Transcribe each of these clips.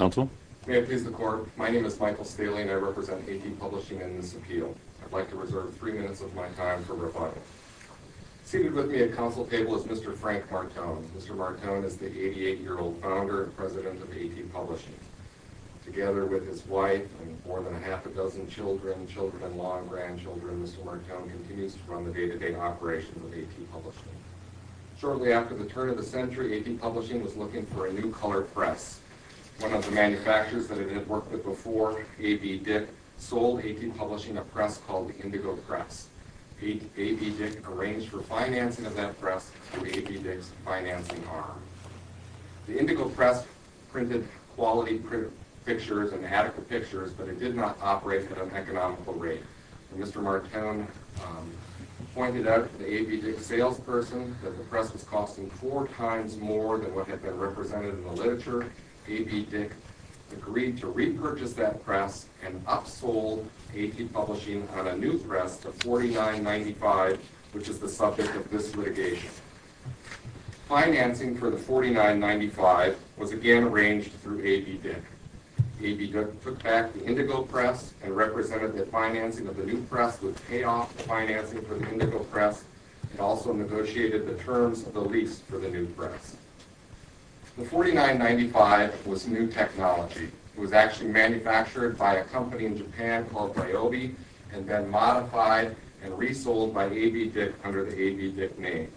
May it please the Court, my name is Michael Staheling, I represent AT Publishing and this appeal. I'd like to reserve three minutes of my time for rebuttal. Seated with me at council table is Mr. Frank Martone. Mr. Martone is the 88-year-old founder and president of AT Publishing. Together with his wife and more than half a dozen children, children-in-law, and grandchildren, Mr. Martone continues to run the day-to-day operations of AT Publishing. Shortly after the turn of the century, AT Publishing was looking for a new color press. One of the manufacturers that it had worked with before, A.B. Dick, sold AT Publishing a press called the Indigo Press. A.B. Dick arranged for financing of that press through A.B. Dick's financing arm. The Indigo Press printed quality pictures and adequate pictures, but it did not operate at an economical rate. Mr. Martone pointed out to the A.B. Dick salesperson that the press was costing four times more than what had been represented in the literature. A.B. Dick agreed to repurchase that press and upsold AT Publishing on a new press of $49.95, which is the subject of this litigation. Financing for the $49.95 was again arranged through A.B. Dick. A.B. Dick took back the Indigo Press and represented that financing of the new press with payoff financing for the Indigo Press, and also negotiated the terms of the lease for the new press. The $49.95 was new technology. It was actually manufactured by a company in Japan called Ryobi and then modified and resold by A.B. Dick under the A.B. Dick name.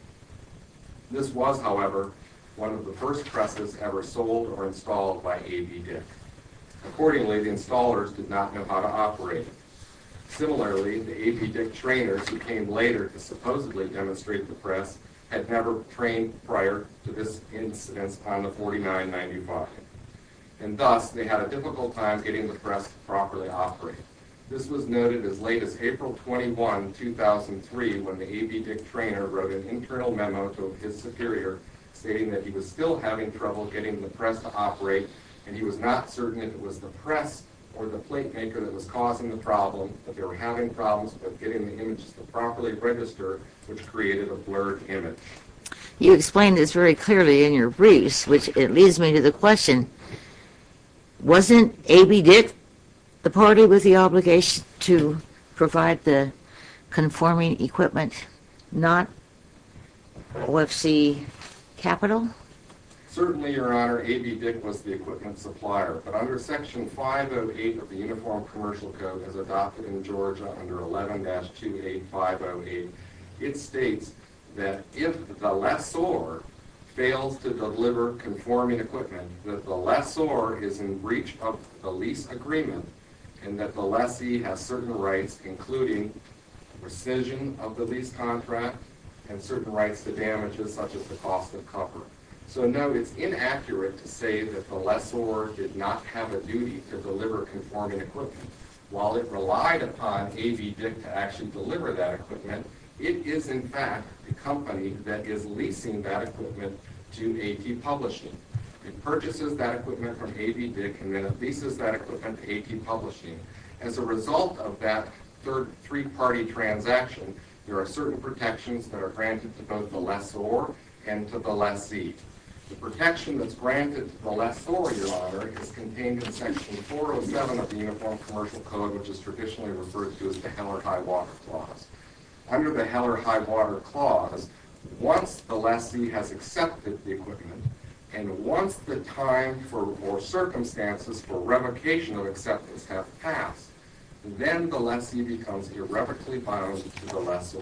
This was, however, one of the first presses ever sold or installed by A.B. Dick. Accordingly, the installers did not know how to operate. Similarly, the A.B. Dick trainers who came later to supposedly demonstrate the press had never trained prior to this incidence on the $49.95, and thus they had a difficult time getting the press to properly operate. This was noted as late as April 21, 2003, when the A.B. Dick trainer wrote an internal memo to his superior stating that he was still having trouble getting the press to operate and he was not certain if it was the press or the plate maker that was causing the problem, that they were having problems with getting the images to properly register, which created a blurred image. You explained this very clearly in your briefs, which leads me to the question. Wasn't A.B. Dick the party with the obligation to provide the conforming equipment, not OFC Capital? Certainly, Your Honor, A.B. Dick was the equipment supplier, but under Section 508 of the Uniform Commercial Code, as adopted in Georgia under 11-28508, it states that if the lessor fails to deliver conforming equipment, that the lessor is in breach of the lease agreement, and that the lessee has certain rights, including rescission of the lease contract and certain rights to damages such as the cost of cover. So, no, it's inaccurate to say that the lessor did not have a duty to deliver conforming equipment. While it relied upon A.B. Dick to actually deliver that equipment, it is, in fact, the company that is leasing that equipment to A.T. Publishing. It purchases that equipment from A.B. Dick and then it leases that equipment to A.T. Publishing. As a result of that three-party transaction, there are certain protections that are granted to both the lessor and to the lessee. The protection that's granted to the lessor, Your Honor, is contained in Section 407 of the Uniform Commercial Code, which is traditionally referred to as the Heller High Water Clause. Under the Heller High Water Clause, once the lessee has accepted the equipment, and once the time or circumstances for revocation of acceptance have passed, then the lessee becomes irrevocably bound to the lessor.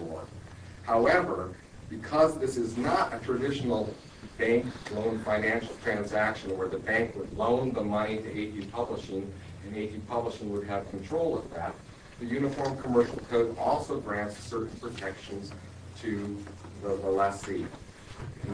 However, because this is not a traditional bank loan financial transaction where the bank would loan the money to A.T. Publishing and A.T. Publishing would have control of that, the Uniform Commercial Code also grants certain protections to the lessee.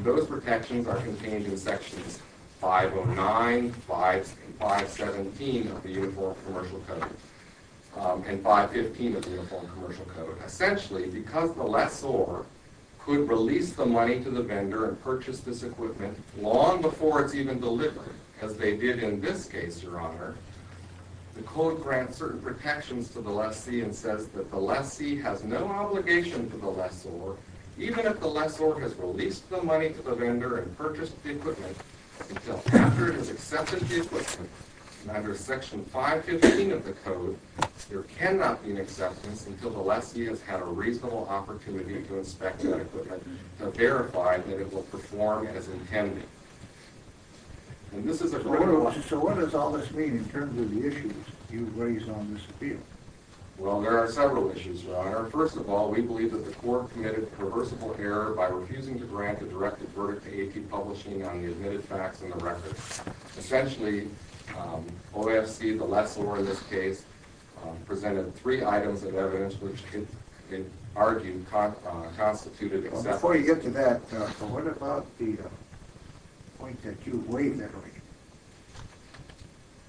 Those protections are contained in Sections 509, 517 of the Uniform Commercial Code, and 515 of the Uniform Commercial Code. Essentially, because the lessor could release the money to the vendor and purchase this equipment long before it's even delivered, as they did in this case, Your Honor, the code grants certain protections to the lessee and says that the lessee has no obligation to the lessor even if the lessor has released the money to the vendor and purchased the equipment until after it has accepted the equipment. Under Section 515 of the code, there cannot be an acceptance until the lessee has had a reasonable opportunity to inspect that equipment to verify that it will perform as intended. And this is a critical point. So what does all this mean in terms of the issues you've raised on this appeal? Well, there are several issues, Your Honor. First of all, we believe that the court committed a reversible error by refusing to grant a directed verdict to AP Publishing on the admitted facts in the record. Essentially, OFC, the lessor in this case, presented three items of evidence which it argued constituted acceptance. Before you get to that, what about the point that you weigh, memory?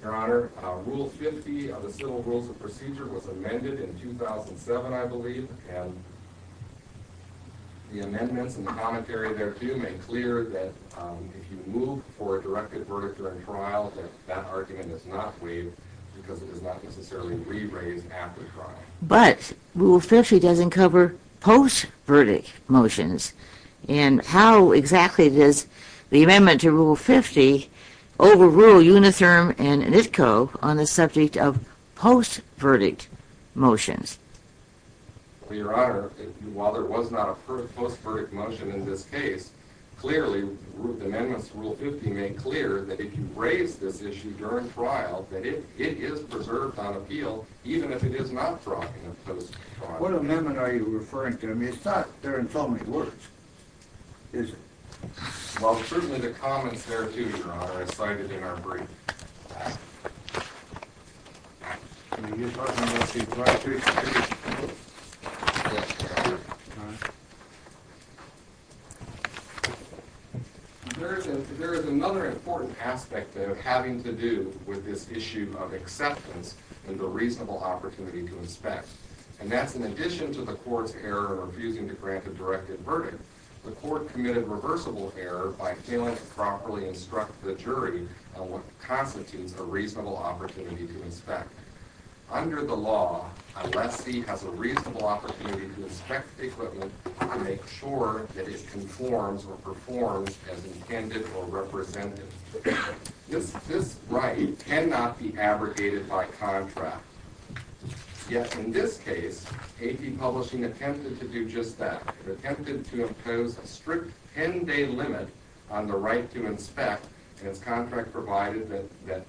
Your Honor, Rule 50 of the Civil Rules of Procedure was amended in 2007, I believe, and the amendments and the commentary there to make clear that if you move for a directed verdict during trial, that argument is not waived because it is not necessarily re-raised after trial. But Rule 50 doesn't cover post-verdict motions. And how exactly does the amendment to Rule 50 overrule Unitherm and NITCO on the subject of post-verdict motions? Well, Your Honor, while there was not a post-verdict motion in this case, clearly the amendments to Rule 50 make clear that if you raise this issue during trial, that it is preserved on appeal even if it is not brought in post-trial. What amendment are you referring to? I mean, it's not there in so many words, is it? Well, certainly the comments there, too, Your Honor, are cited in our brief. There is another important aspect of having to do with this issue of acceptance and the reasonable opportunity to inspect, and that's in addition to the court's error of refusing to grant a directed verdict, the court committed reversible error by failing to properly instruct the jury on what constitutes a reasonable opportunity to inspect. Under the law, a lessee has a reasonable opportunity to inspect equipment to make sure that it conforms or performs as intended or represented. This right cannot be abrogated by contract. Yet in this case, AP Publishing attempted to do just that. It attempted to impose a strict 10-day limit on the right to inspect, and its contract provided that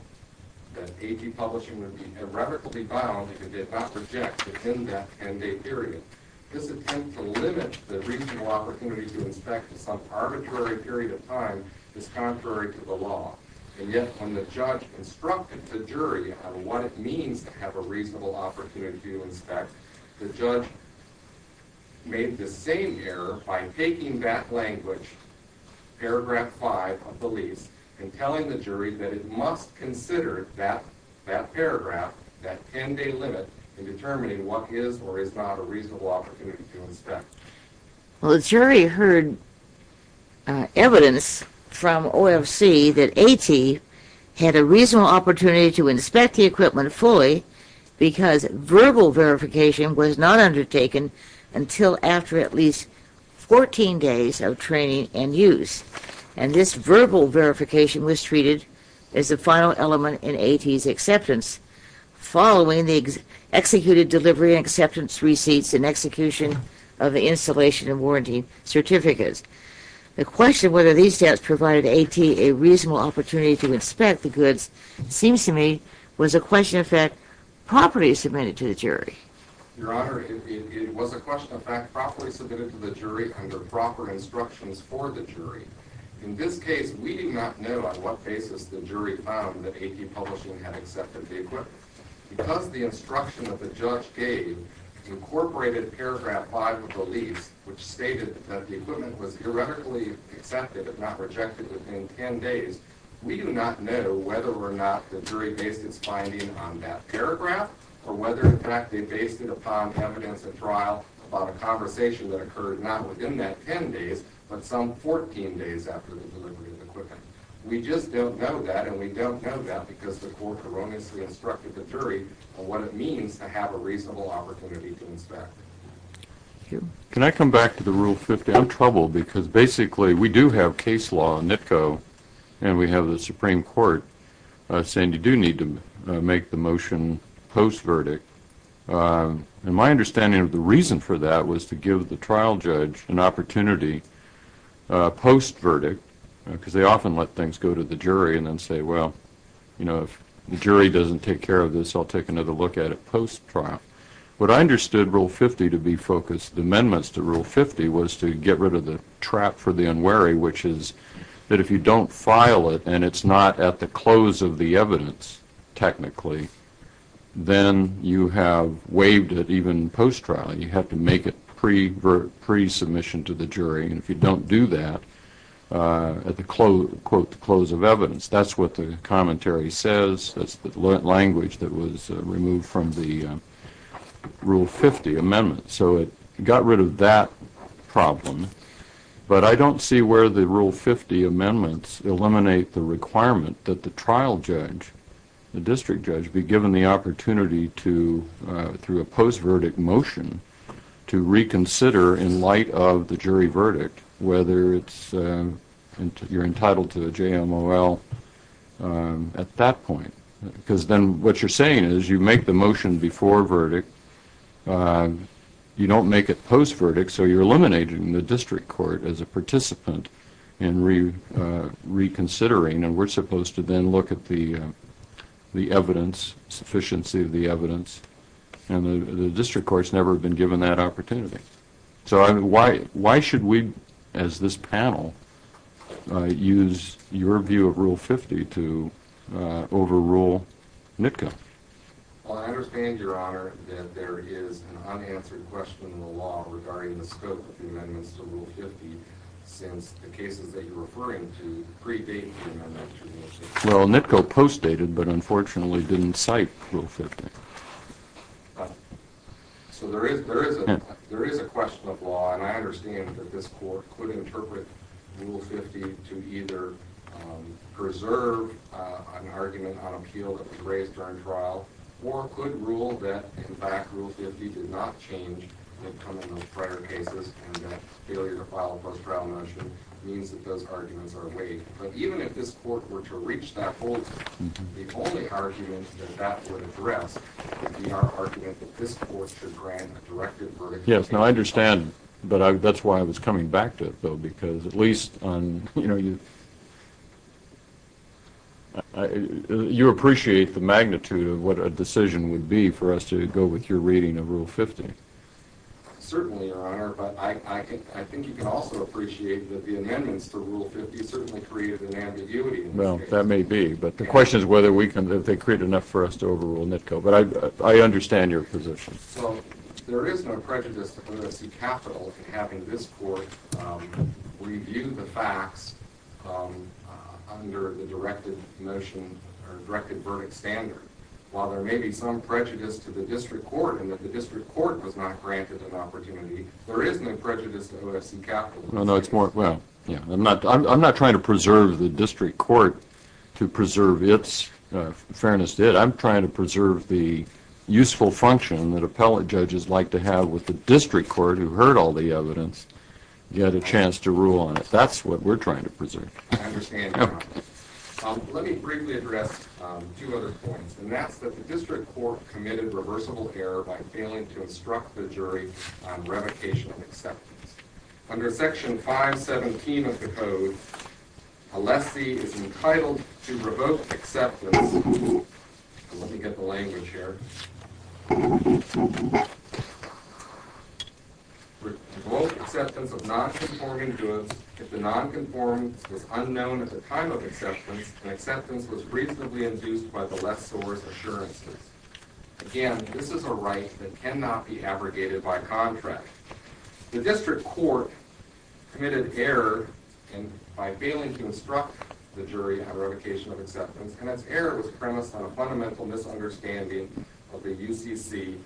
AP Publishing would be erratically bound if it did not reject within that 10-day period. This attempt to limit the reasonable opportunity to inspect to some arbitrary period of time is contrary to the law, and yet when the judge instructed the jury on what it means to have a reasonable opportunity to inspect, the judge made the same error by taking that language, paragraph 5 of the lease, and telling the jury that it must consider that paragraph, that 10-day limit, in determining what is or is not a reasonable opportunity to inspect. Well, the jury heard evidence from OFC that AT had a reasonable opportunity to inspect the equipment fully because verbal verification was not undertaken until after at least 14 days of training and use. And this verbal verification was treated as the final element in AT's acceptance. Following the executed delivery and acceptance receipts and execution of the installation and warranty certificates. The question whether these tests provided AT a reasonable opportunity to inspect the goods seems to me was a question of fact properly submitted to the jury. Your Honor, it was a question of fact properly submitted to the jury under proper instructions for the jury. In this case, we do not know on what basis the jury found that AT Publishing had accepted the equipment. Because the instruction that the judge gave incorporated paragraph 5 of the lease, which stated that the equipment was erratically accepted if not rejected within 10 days, we do not know whether or not the jury based its finding on that paragraph or whether in fact they based it upon evidence at trial about a conversation that occurred not within that 10 days, but some 14 days after the delivery of the equipment. We just don't know that and we don't know that because the court erroneously instructed the jury on what it means to have a reasonable opportunity to inspect. Thank you. Can I come back to the Rule 50? I'm troubled because basically we do have case law in NITCO and we have the Supreme Court saying you do need to make the motion post-verdict. And my understanding of the reason for that was to give the trial judge an opportunity post-verdict because they often let things go to the jury and then say, well, if the jury doesn't take care of this, I'll take another look at it post-trial. What I understood Rule 50 to be focused amendments to Rule 50 was to get rid of the trap for the unwary, which is that if you don't file it and it's not at the close of the evidence technically, then you have waived it even post-trial. You have to make it pre-submission to the jury. And if you don't do that at the close of evidence, that's what the commentary says. That's the language that was removed from the Rule 50 amendment. So it got rid of that problem. But I don't see where the Rule 50 amendments eliminate the requirement that the trial judge, the district judge, be given the opportunity to, through a post-verdict motion, to reconsider in light of the jury verdict whether you're entitled to a JMOL at that point. Because then what you're saying is you make the motion before verdict, you don't make it post-verdict, so you're eliminating the district court as a participant in reconsidering, and we're supposed to then look at the evidence, sufficiency of the evidence. And the district courts never have been given that opportunity. So why should we, as this panel, use your view of Rule 50 to overrule NITCO? Well, I understand, Your Honor, that there is an unanswered question in the law regarding the scope of the amendments to Rule 50 since the cases that you're referring to pre-date the amendments to Rule 50. Well, NITCO post-dated, but unfortunately didn't cite Rule 50. So there is a question of law, and I understand that this court could interpret Rule 50 to either preserve an argument on appeal that was raised during trial, or could rule that, in fact, Rule 50 did not change in the prior cases, and that failure to file a post-trial motion means that those arguments are weighed. But even if this court were to reach that goal, the only argument that that would address would be our argument that this court should grant a directive for a case of... Yes, no, I understand, but that's why I was coming back to it, though, because at least on, you know, you... You appreciate the magnitude of what a decision would be for us to go with your reading of Rule 50. Certainly, Your Honor, but I think you can also appreciate that the amendments to Rule 50 certainly created an ambiguity in this case. Well, that may be, but the question is whether we can... that they create enough for us to overrule NITCO, but I understand your position. So there is no prejudice that we're going to see capital to having this court review the facts under the directed motion or directed verdict standard. While there may be some prejudice to the district court and that the district court was not granted an opportunity, there is no prejudice to OFC capital. No, no, it's more... well, yeah, I'm not trying to preserve the district court to preserve its fairness. I'm trying to preserve the useful function that appellate judges like to have with the district court who heard all the evidence, get a chance to rule on it. That's what we're trying to preserve. I understand, Your Honor. Let me briefly address two other points, and that's that the district court committed reversible error by failing to instruct the jury on revocation of acceptance. Under Section 517 of the Code, a lessee is entitled to revoke acceptance... let me get the language here... to revoke acceptance of nonconforming goods if the nonconformance was unknown at the time of acceptance and acceptance was reasonably induced by the lessor's assurances. Again, this is a right that cannot be abrogated by contract. The district court committed error by failing to instruct the jury on revocation of acceptance, and its error was premised on a fundamental misunderstanding of the UCC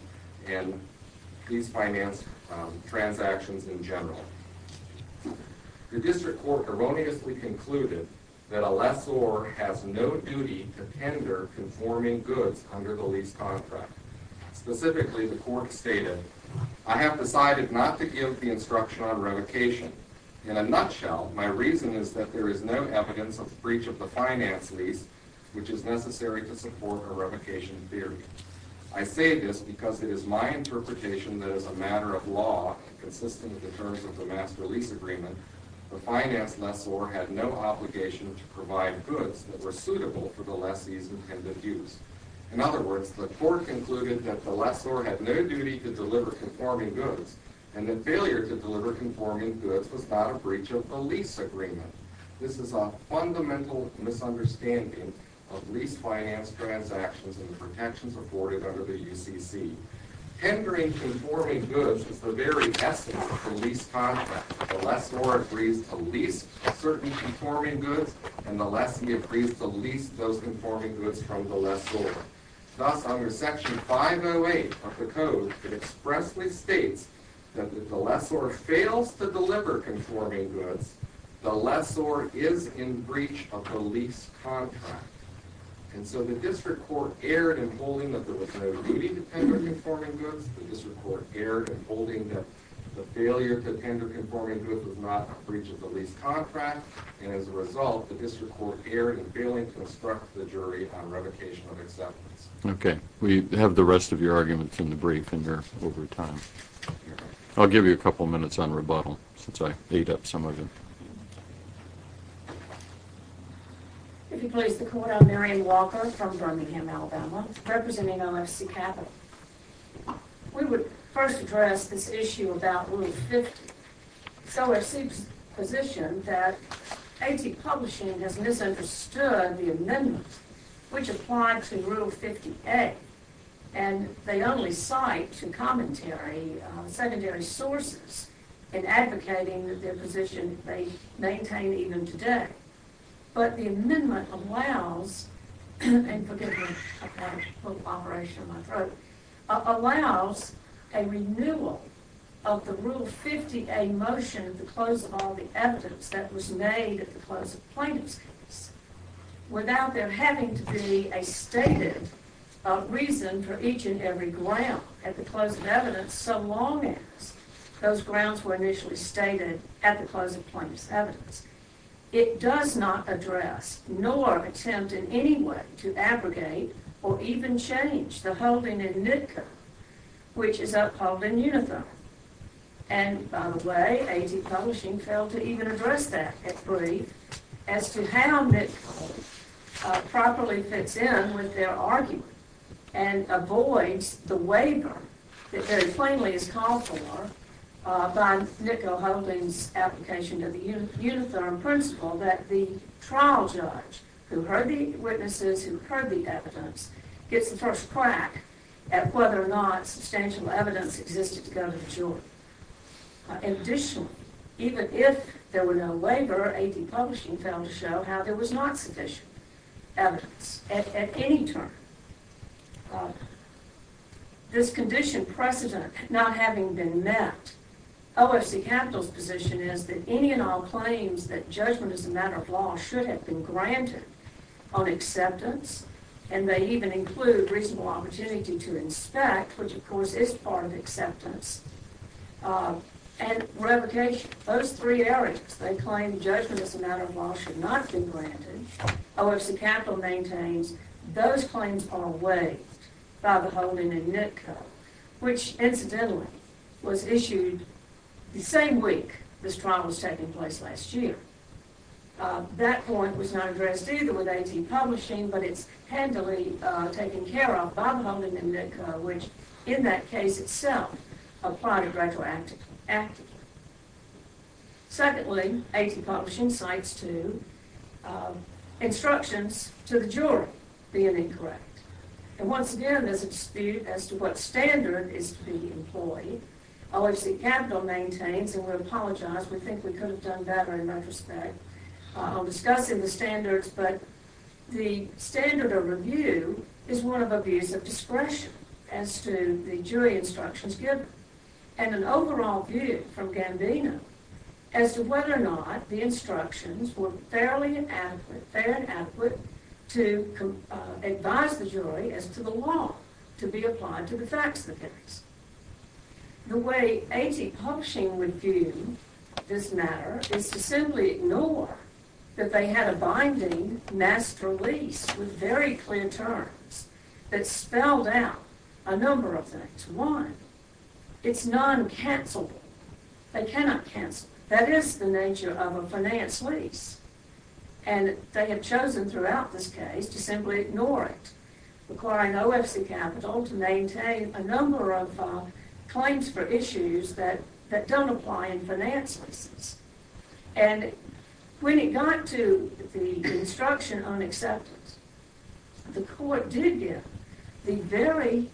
and lease finance transactions in general. The district court erroneously concluded that a lessor has no duty to tender conforming goods under the lease contract. Specifically, the court stated, I have decided not to give the instruction on revocation. In a nutshell, my reason is that there is no evidence of breach of the finance lease which is necessary to support a revocation theory. I say this because it is my interpretation that as a matter of law, consistent with the terms of the master lease agreement, the finance lessor had no obligation to provide goods that were suitable for the lessee's intended use. In other words, the court concluded that the lessor had no duty to deliver conforming goods and that failure to deliver conforming goods was not a breach of the lease agreement. This is a fundamental misunderstanding of lease finance transactions and the protections afforded under the UCC. Tendering conforming goods is the very essence of the lease contract. The lessor agrees to lease certain conforming goods, and the lessee agrees to lease those conforming goods from the lessor. Thus, under Section 508 of the Code, it expressly states that if the lessor fails to deliver conforming goods, the lessor is in breach of the lease contract. And so the district court erred in holding that there was no duty to tender conforming goods, the district court erred in holding that the failure to tender conforming goods was not a breach of the lease contract, and as a result, the district court erred in failing to instruct the jury on revocation of acceptance. If you please, the court. I'm Marian Walker from Birmingham, Alabama, representing LFC Capital. We would first address this issue about Rule 50. So LFC's position that AT Publishing has misunderstood the amendment which applied to Rule 50A, and they only cite to commentary secondary sources in advocating their position they maintain even today. But the amendment allows, and forgive me, I've got a poop operation in my throat, allows a renewal of the Rule 50A motion at the close of all the evidence that was made at the close of plaintiff's case without there having to be a stated reason for each and every ground at the close of evidence, so long as those grounds were initially stated at the close of plaintiff's evidence. It does not address nor attempt in any way to abrogate or even change the holding in NITCA, which is upheld in uniform. And by the way, AT Publishing failed to even address that at brief as to how NITCO properly fits in with their argument and avoids the waiver that very plainly is called for by NITCO holding's application to the uniform principle that the trial judge who heard the witnesses, who heard the evidence, gets the first crack at whether or not substantial evidence existed to go to the jury. Additionally, even if there were no waiver, AT Publishing failed to show how there was not sufficient evidence at any term. This condition precedent not having been met, OFC Capital's position is that any and all claims that judgment is a matter of law should have been granted on acceptance, and they even include reasonable opportunity to inspect, which of course is part of acceptance, and revocation. Those three areas, they claim judgment as a matter of law should not be granted. OFC Capital maintains those claims are waived by the holding in NITCO, which incidentally was issued the same week this trial was taking place last year. That point was not addressed either with AT Publishing, but it's handily taken care of by the holding in NITCO, which in that case itself applied a gradual act of law. Secondly, AT Publishing cites two instructions to the jury being incorrect. And once again, there's a dispute as to what standard is to be employed. OFC Capital maintains, and we apologize, we think we could have done better in retrospect, on discussing the standards, but the standard of review is one of abuse of discretion as to the jury instructions given. And an overall view from Gambino as to whether or not the instructions were fairly adequate, fair and adequate to advise the jury as to the law to be applied to the facts of the case. The way AT Publishing would view this matter is to simply ignore that they had a binding mass release with very clear terms that spelled out a number of things. One, it's non-cancellable. They cannot cancel. That is the nature of a finance lease. And they have chosen throughout this case to simply ignore it, requiring OFC Capital to maintain a number of claims for issues that don't apply in finance leases. And when it got to the instruction on acceptance, the court did give the very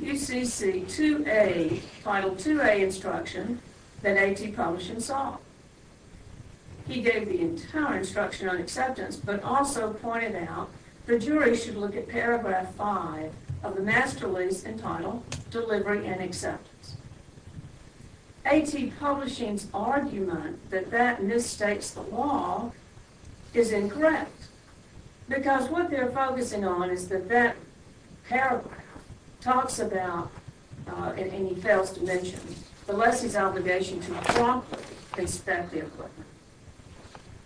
UCC 2A, Title 2A instruction that AT Publishing saw. He gave the entire instruction on acceptance, but also pointed out the jury should look at Paragraph 5 of the mass release entitled Delivery and Acceptance. AT Publishing's argument that that misstates the law is incorrect, because what they're focusing on is that that paragraph talks about, and he fails to mention, the lessee's obligation to promptly inspect the equipment.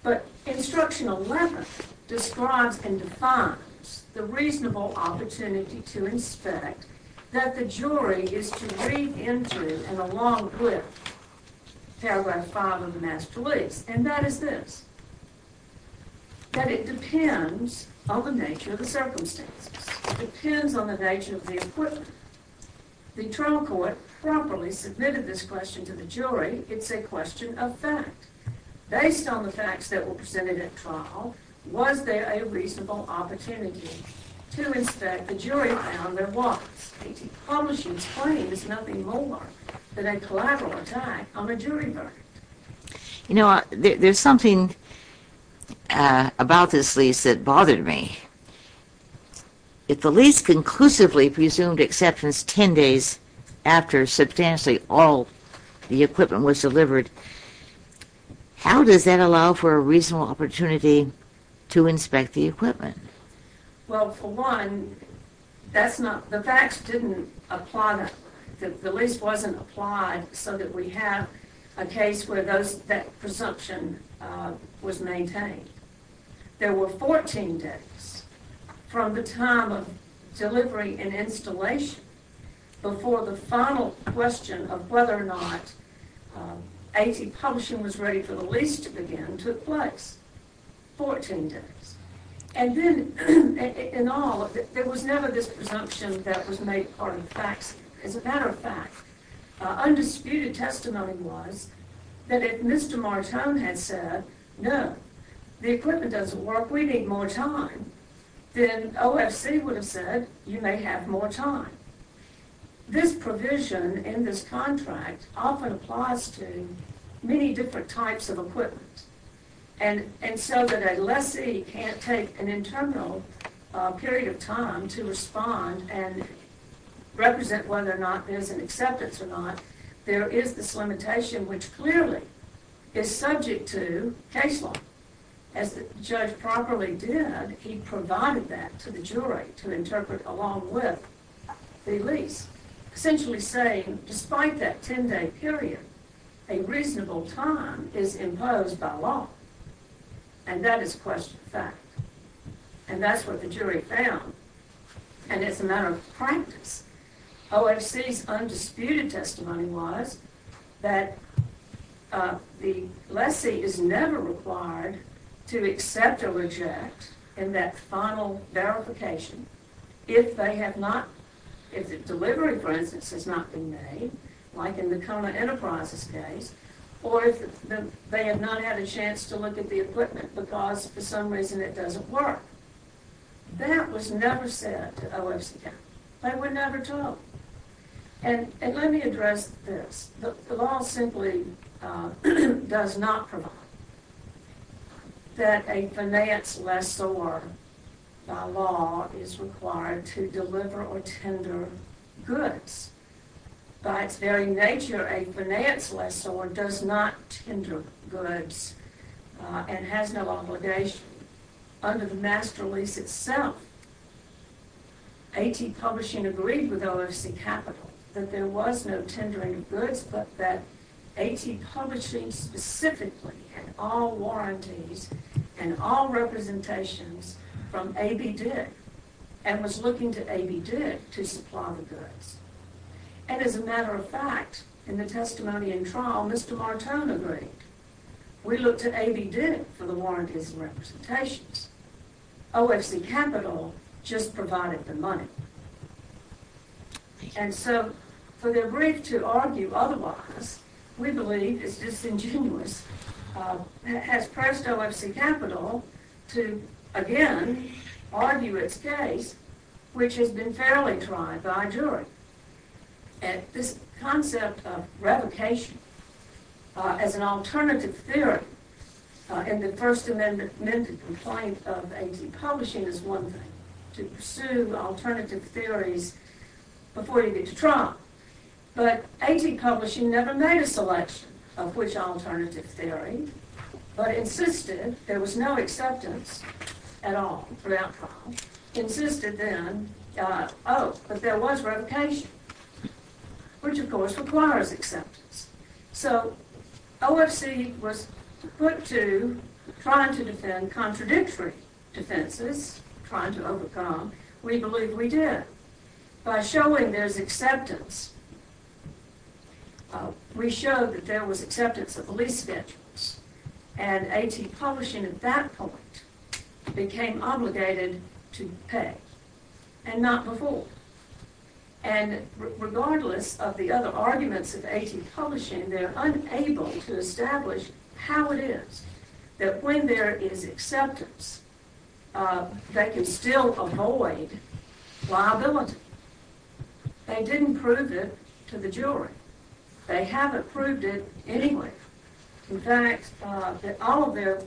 But Instruction 11 describes and defines the reasonable opportunity to inspect that the jury is to read into and along with Paragraph 5 of the mass release. And that is this, that it depends on the nature of the circumstances. It depends on the nature of the equipment. The trial court properly submitted this question to the jury. It's a question of fact. Based on the facts that were presented at trial, was there a reasonable opportunity to inspect the jury found there was? AT Publishing's claim is nothing more than a collateral attack on a jury verdict. You know, there's something about this lease that bothered me. If the lease conclusively presumed acceptance ten days after substantially all the equipment was delivered, how does that allow for a reasonable opportunity to inspect the equipment? Well, for one, the facts didn't apply. The lease wasn't applied so that we have a case where that presumption was maintained. There were 14 days from the time of delivery and installation before the final question of whether or not AT Publishing was ready for the lease to begin took place. 14 days. And then, in all, there was never this presumption that was made part of the facts. As a matter of fact, undisputed testimony was that if Mr. Martone had said, no, the equipment doesn't work, we need more time, then OFC would have said, you may have more time. This provision in this contract often applies to many different types of equipment. And so that a lessee can't take an internal period of time to respond and represent whether or not there's an acceptance or not, there is this limitation which clearly is subject to case law. As the judge properly did, he provided that to the jury to interpret along with the lease. Essentially saying, despite that ten-day period, a reasonable time is imposed by law. And that is question of fact. And that's what the jury found. And it's a matter of practice. OFC's undisputed testimony was that the lessee is never required to accept or reject in that final verification if they have not, if the delivery, for instance, has not been made, like in the Kona Enterprises case, or if they have not had a chance to look at the equipment because, for some reason, it doesn't work. That was never said to OFC. They were never told. And let me address this. The law simply does not provide that a finance lessor, by law, is required to deliver or tender goods. By its very nature, a finance lessor does not tender goods and has no obligation. Under the master lease itself, A.T. Publishing agreed with OFC Capital that there was no tendering of goods, but that A.T. Publishing specifically had all warranties and all representations from A.B. Dick and was looking to A.B. Dick to supply the goods. And as a matter of fact, in the testimony in trial, Mr. Martone agreed. We looked to A.B. Dick for the warranties and representations. OFC Capital just provided the money. And so, for their brief to argue otherwise, we believe is disingenuous, has pressed OFC Capital to, again, argue its case, which has been fairly tried by jury. And this concept of revocation as an alternative theory in the First Amendment complaint of A.T. Publishing is one thing, to pursue alternative theories before you get to trial. But A.T. Publishing never made a selection of which alternative theory, but insisted there was no acceptance at all throughout trial, insisted then, oh, but there was revocation, which, of course, requires acceptance. So, OFC was put to trying to defend contradictory defenses, trying to overcome. We believe we did. By showing there's acceptance, we showed that there was acceptance of the lease schedules. And A.T. Publishing, at that point, became obligated to pay. And not before. And regardless of the other arguments of A.T. Publishing, they're unable to establish how it is, that when there is acceptance, they can still avoid liability. They didn't prove it to the jury. They haven't proved it anyway. In fact, all of their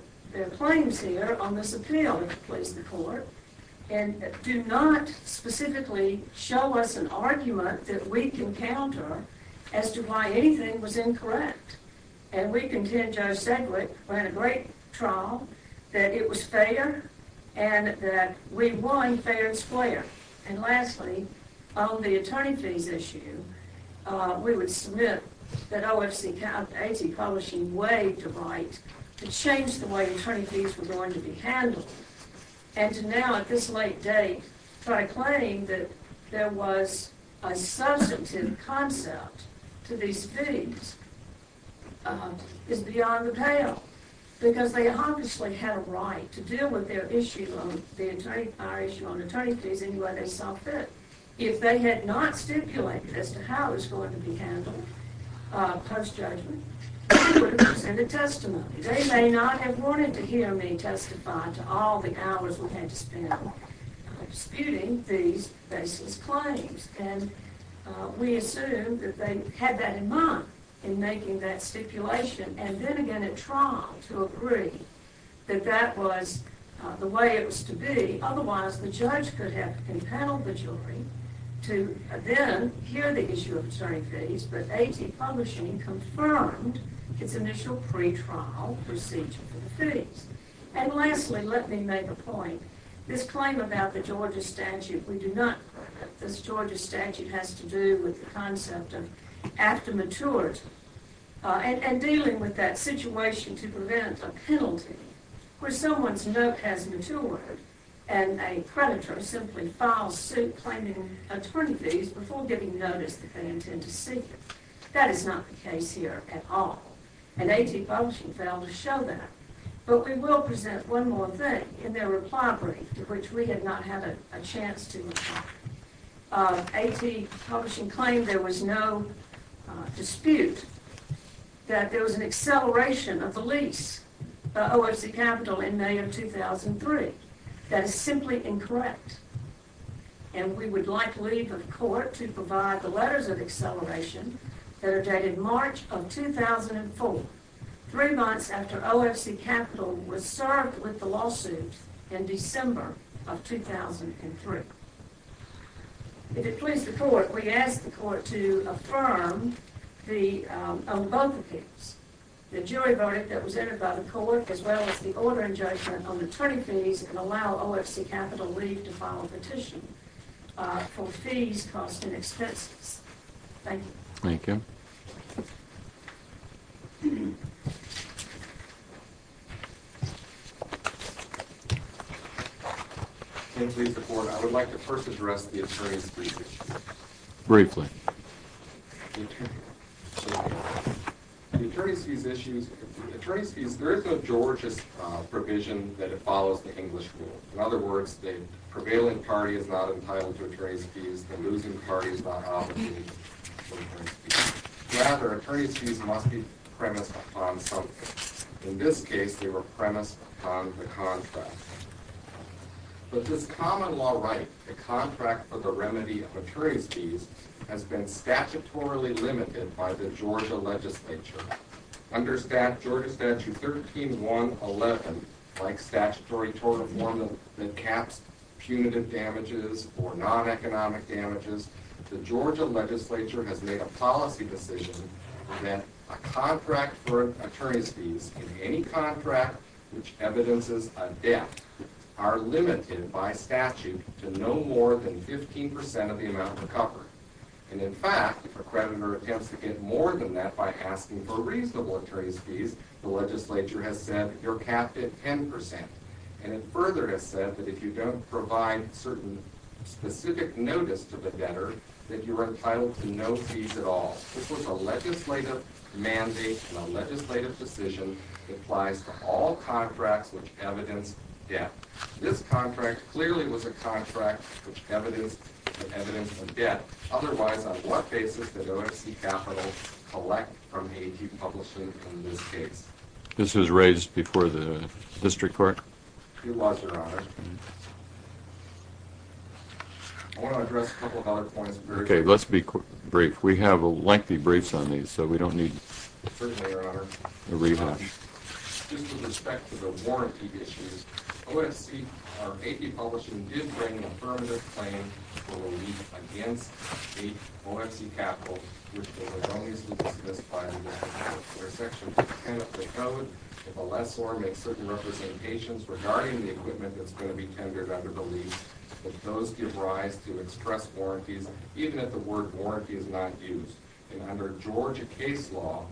claims here on this appeal, if you please the court, do not specifically show us an argument that we can counter as to why anything was incorrect. And we contend Judge Sedgwick ran a great trial, that it was fair, and that we won fair and square. And lastly, on the attorney fees issue, we would submit that A.T. Publishing waived a right to change the way attorney fees were going to be handled. And to now, at this late date, try to claim that there was a substantive concept to these fees is beyond the pale. Because they obviously had a right to deal with our issue on attorney fees any way they saw fit. If they had not stipulated as to how it was going to be handled post-judgment, we would have presented testimony. They may not have wanted to hear me testify to all the hours we had to spend disputing these baseless claims. And we assume that they had that in mind in making that stipulation. And then again, at trial, to agree that that was the way it was to be. Otherwise, the judge could have impaneled the jury to then hear the issue of attorney fees. But A.T. Publishing confirmed its initial pretrial procedure for the fees. And lastly, let me make a point. This claim about the Georgia statute, we do not approve it. This Georgia statute has to do with the concept of after maturity. And dealing with that situation to prevent a penalty where someone's note has matured and a predator simply files suit claiming attorney fees before giving notice that they intend to seek it. That is not the case here at all. And A.T. Publishing failed to show that. But we will present one more thing in their reply brief, which we had not had a chance to. A.T. Publishing claimed there was no dispute that there was an acceleration of the lease by OFC Capital in May of 2003. That is simply incorrect. And we would like leave of court to provide the letters of acceleration that are dated March of 2004, three months after OFC Capital was served with the lawsuit in December of 2003. If it pleases the court, we ask the court to affirm both appeals, the jury verdict that was entered by the court as well as the ordering judgment on attorney fees and allow OFC Capital leave to file a petition for fees, costs, and expenses. Thank you. Thank you. If it pleases the court, I would like to first address the attorney's fees issue. Briefly. The attorney's fees issue. The attorney's fees, there is a Georgia provision that it follows the English rule. In other words, the prevailing party is not entitled to attorney's fees. The losing party is not obligated to attorney's fees. Rather, attorney's fees must be premised upon something. In this case, they were premised upon the contract. But this common law right, the contract for the remedy of attorney's fees, has been statutorily limited by the Georgia legislature. Under Georgia Statute 1311, like statutory tort of Mormon, that caps punitive damages or non-economic damages, the Georgia legislature has made a policy decision that a contract for attorney's fees, in any contract which evidences a debt, are limited by statute to no more than 15% of the amount recovered. And in fact, if a creditor attempts to get more than that by asking for reasonable attorney's fees, the legislature has said, you're capped at 10%. And it further has said that if you don't provide certain specific notice to the debtor, that you are entitled to no fees at all. This was a legislative mandate and a legislative decision that applies to all contracts which evidence debt. This contract clearly was a contract which evidenced a debt. Otherwise, on what basis did OFC Capital collect from A&T Publishing in this case? This was raised before the district court? It was, your honor. I want to address a couple of other points. Okay, let's be brief. We have lengthy briefs on these, so we don't need a rewatch. Just with respect to the warranty issues, OFC, or A&T Publishing, did bring an affirmative claim for a lease against the OFC Capital, which was as long as we can specify in the section 10 of the code, if a lessor makes certain representations regarding the equipment that's going to be tendered under the lease, that those give rise to express warranties, even if the word warranty is not used. And under Georgia case law,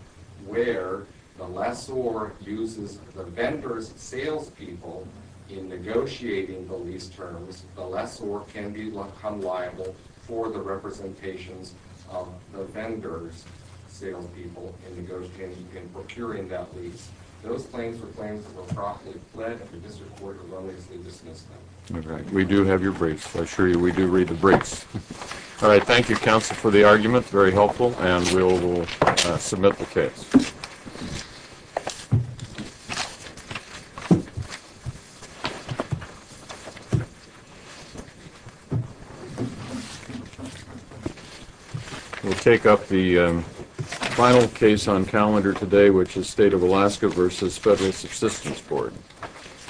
where the lessor uses the vendor's salespeople in negotiating the lease terms, the lessor can become liable for the representations of the vendor's salespeople in negotiating and procuring that lease. Those claims were claims that were properly fled, and the district court erroneously dismissed them. We do have your briefs. I assure you we do read the briefs. All right, thank you, counsel, for the argument. Very helpful. And we'll submit the case. We'll take up the final case on calendar today, which is State of Alaska v. Federal Subsistence Board. Thank you. Thank you.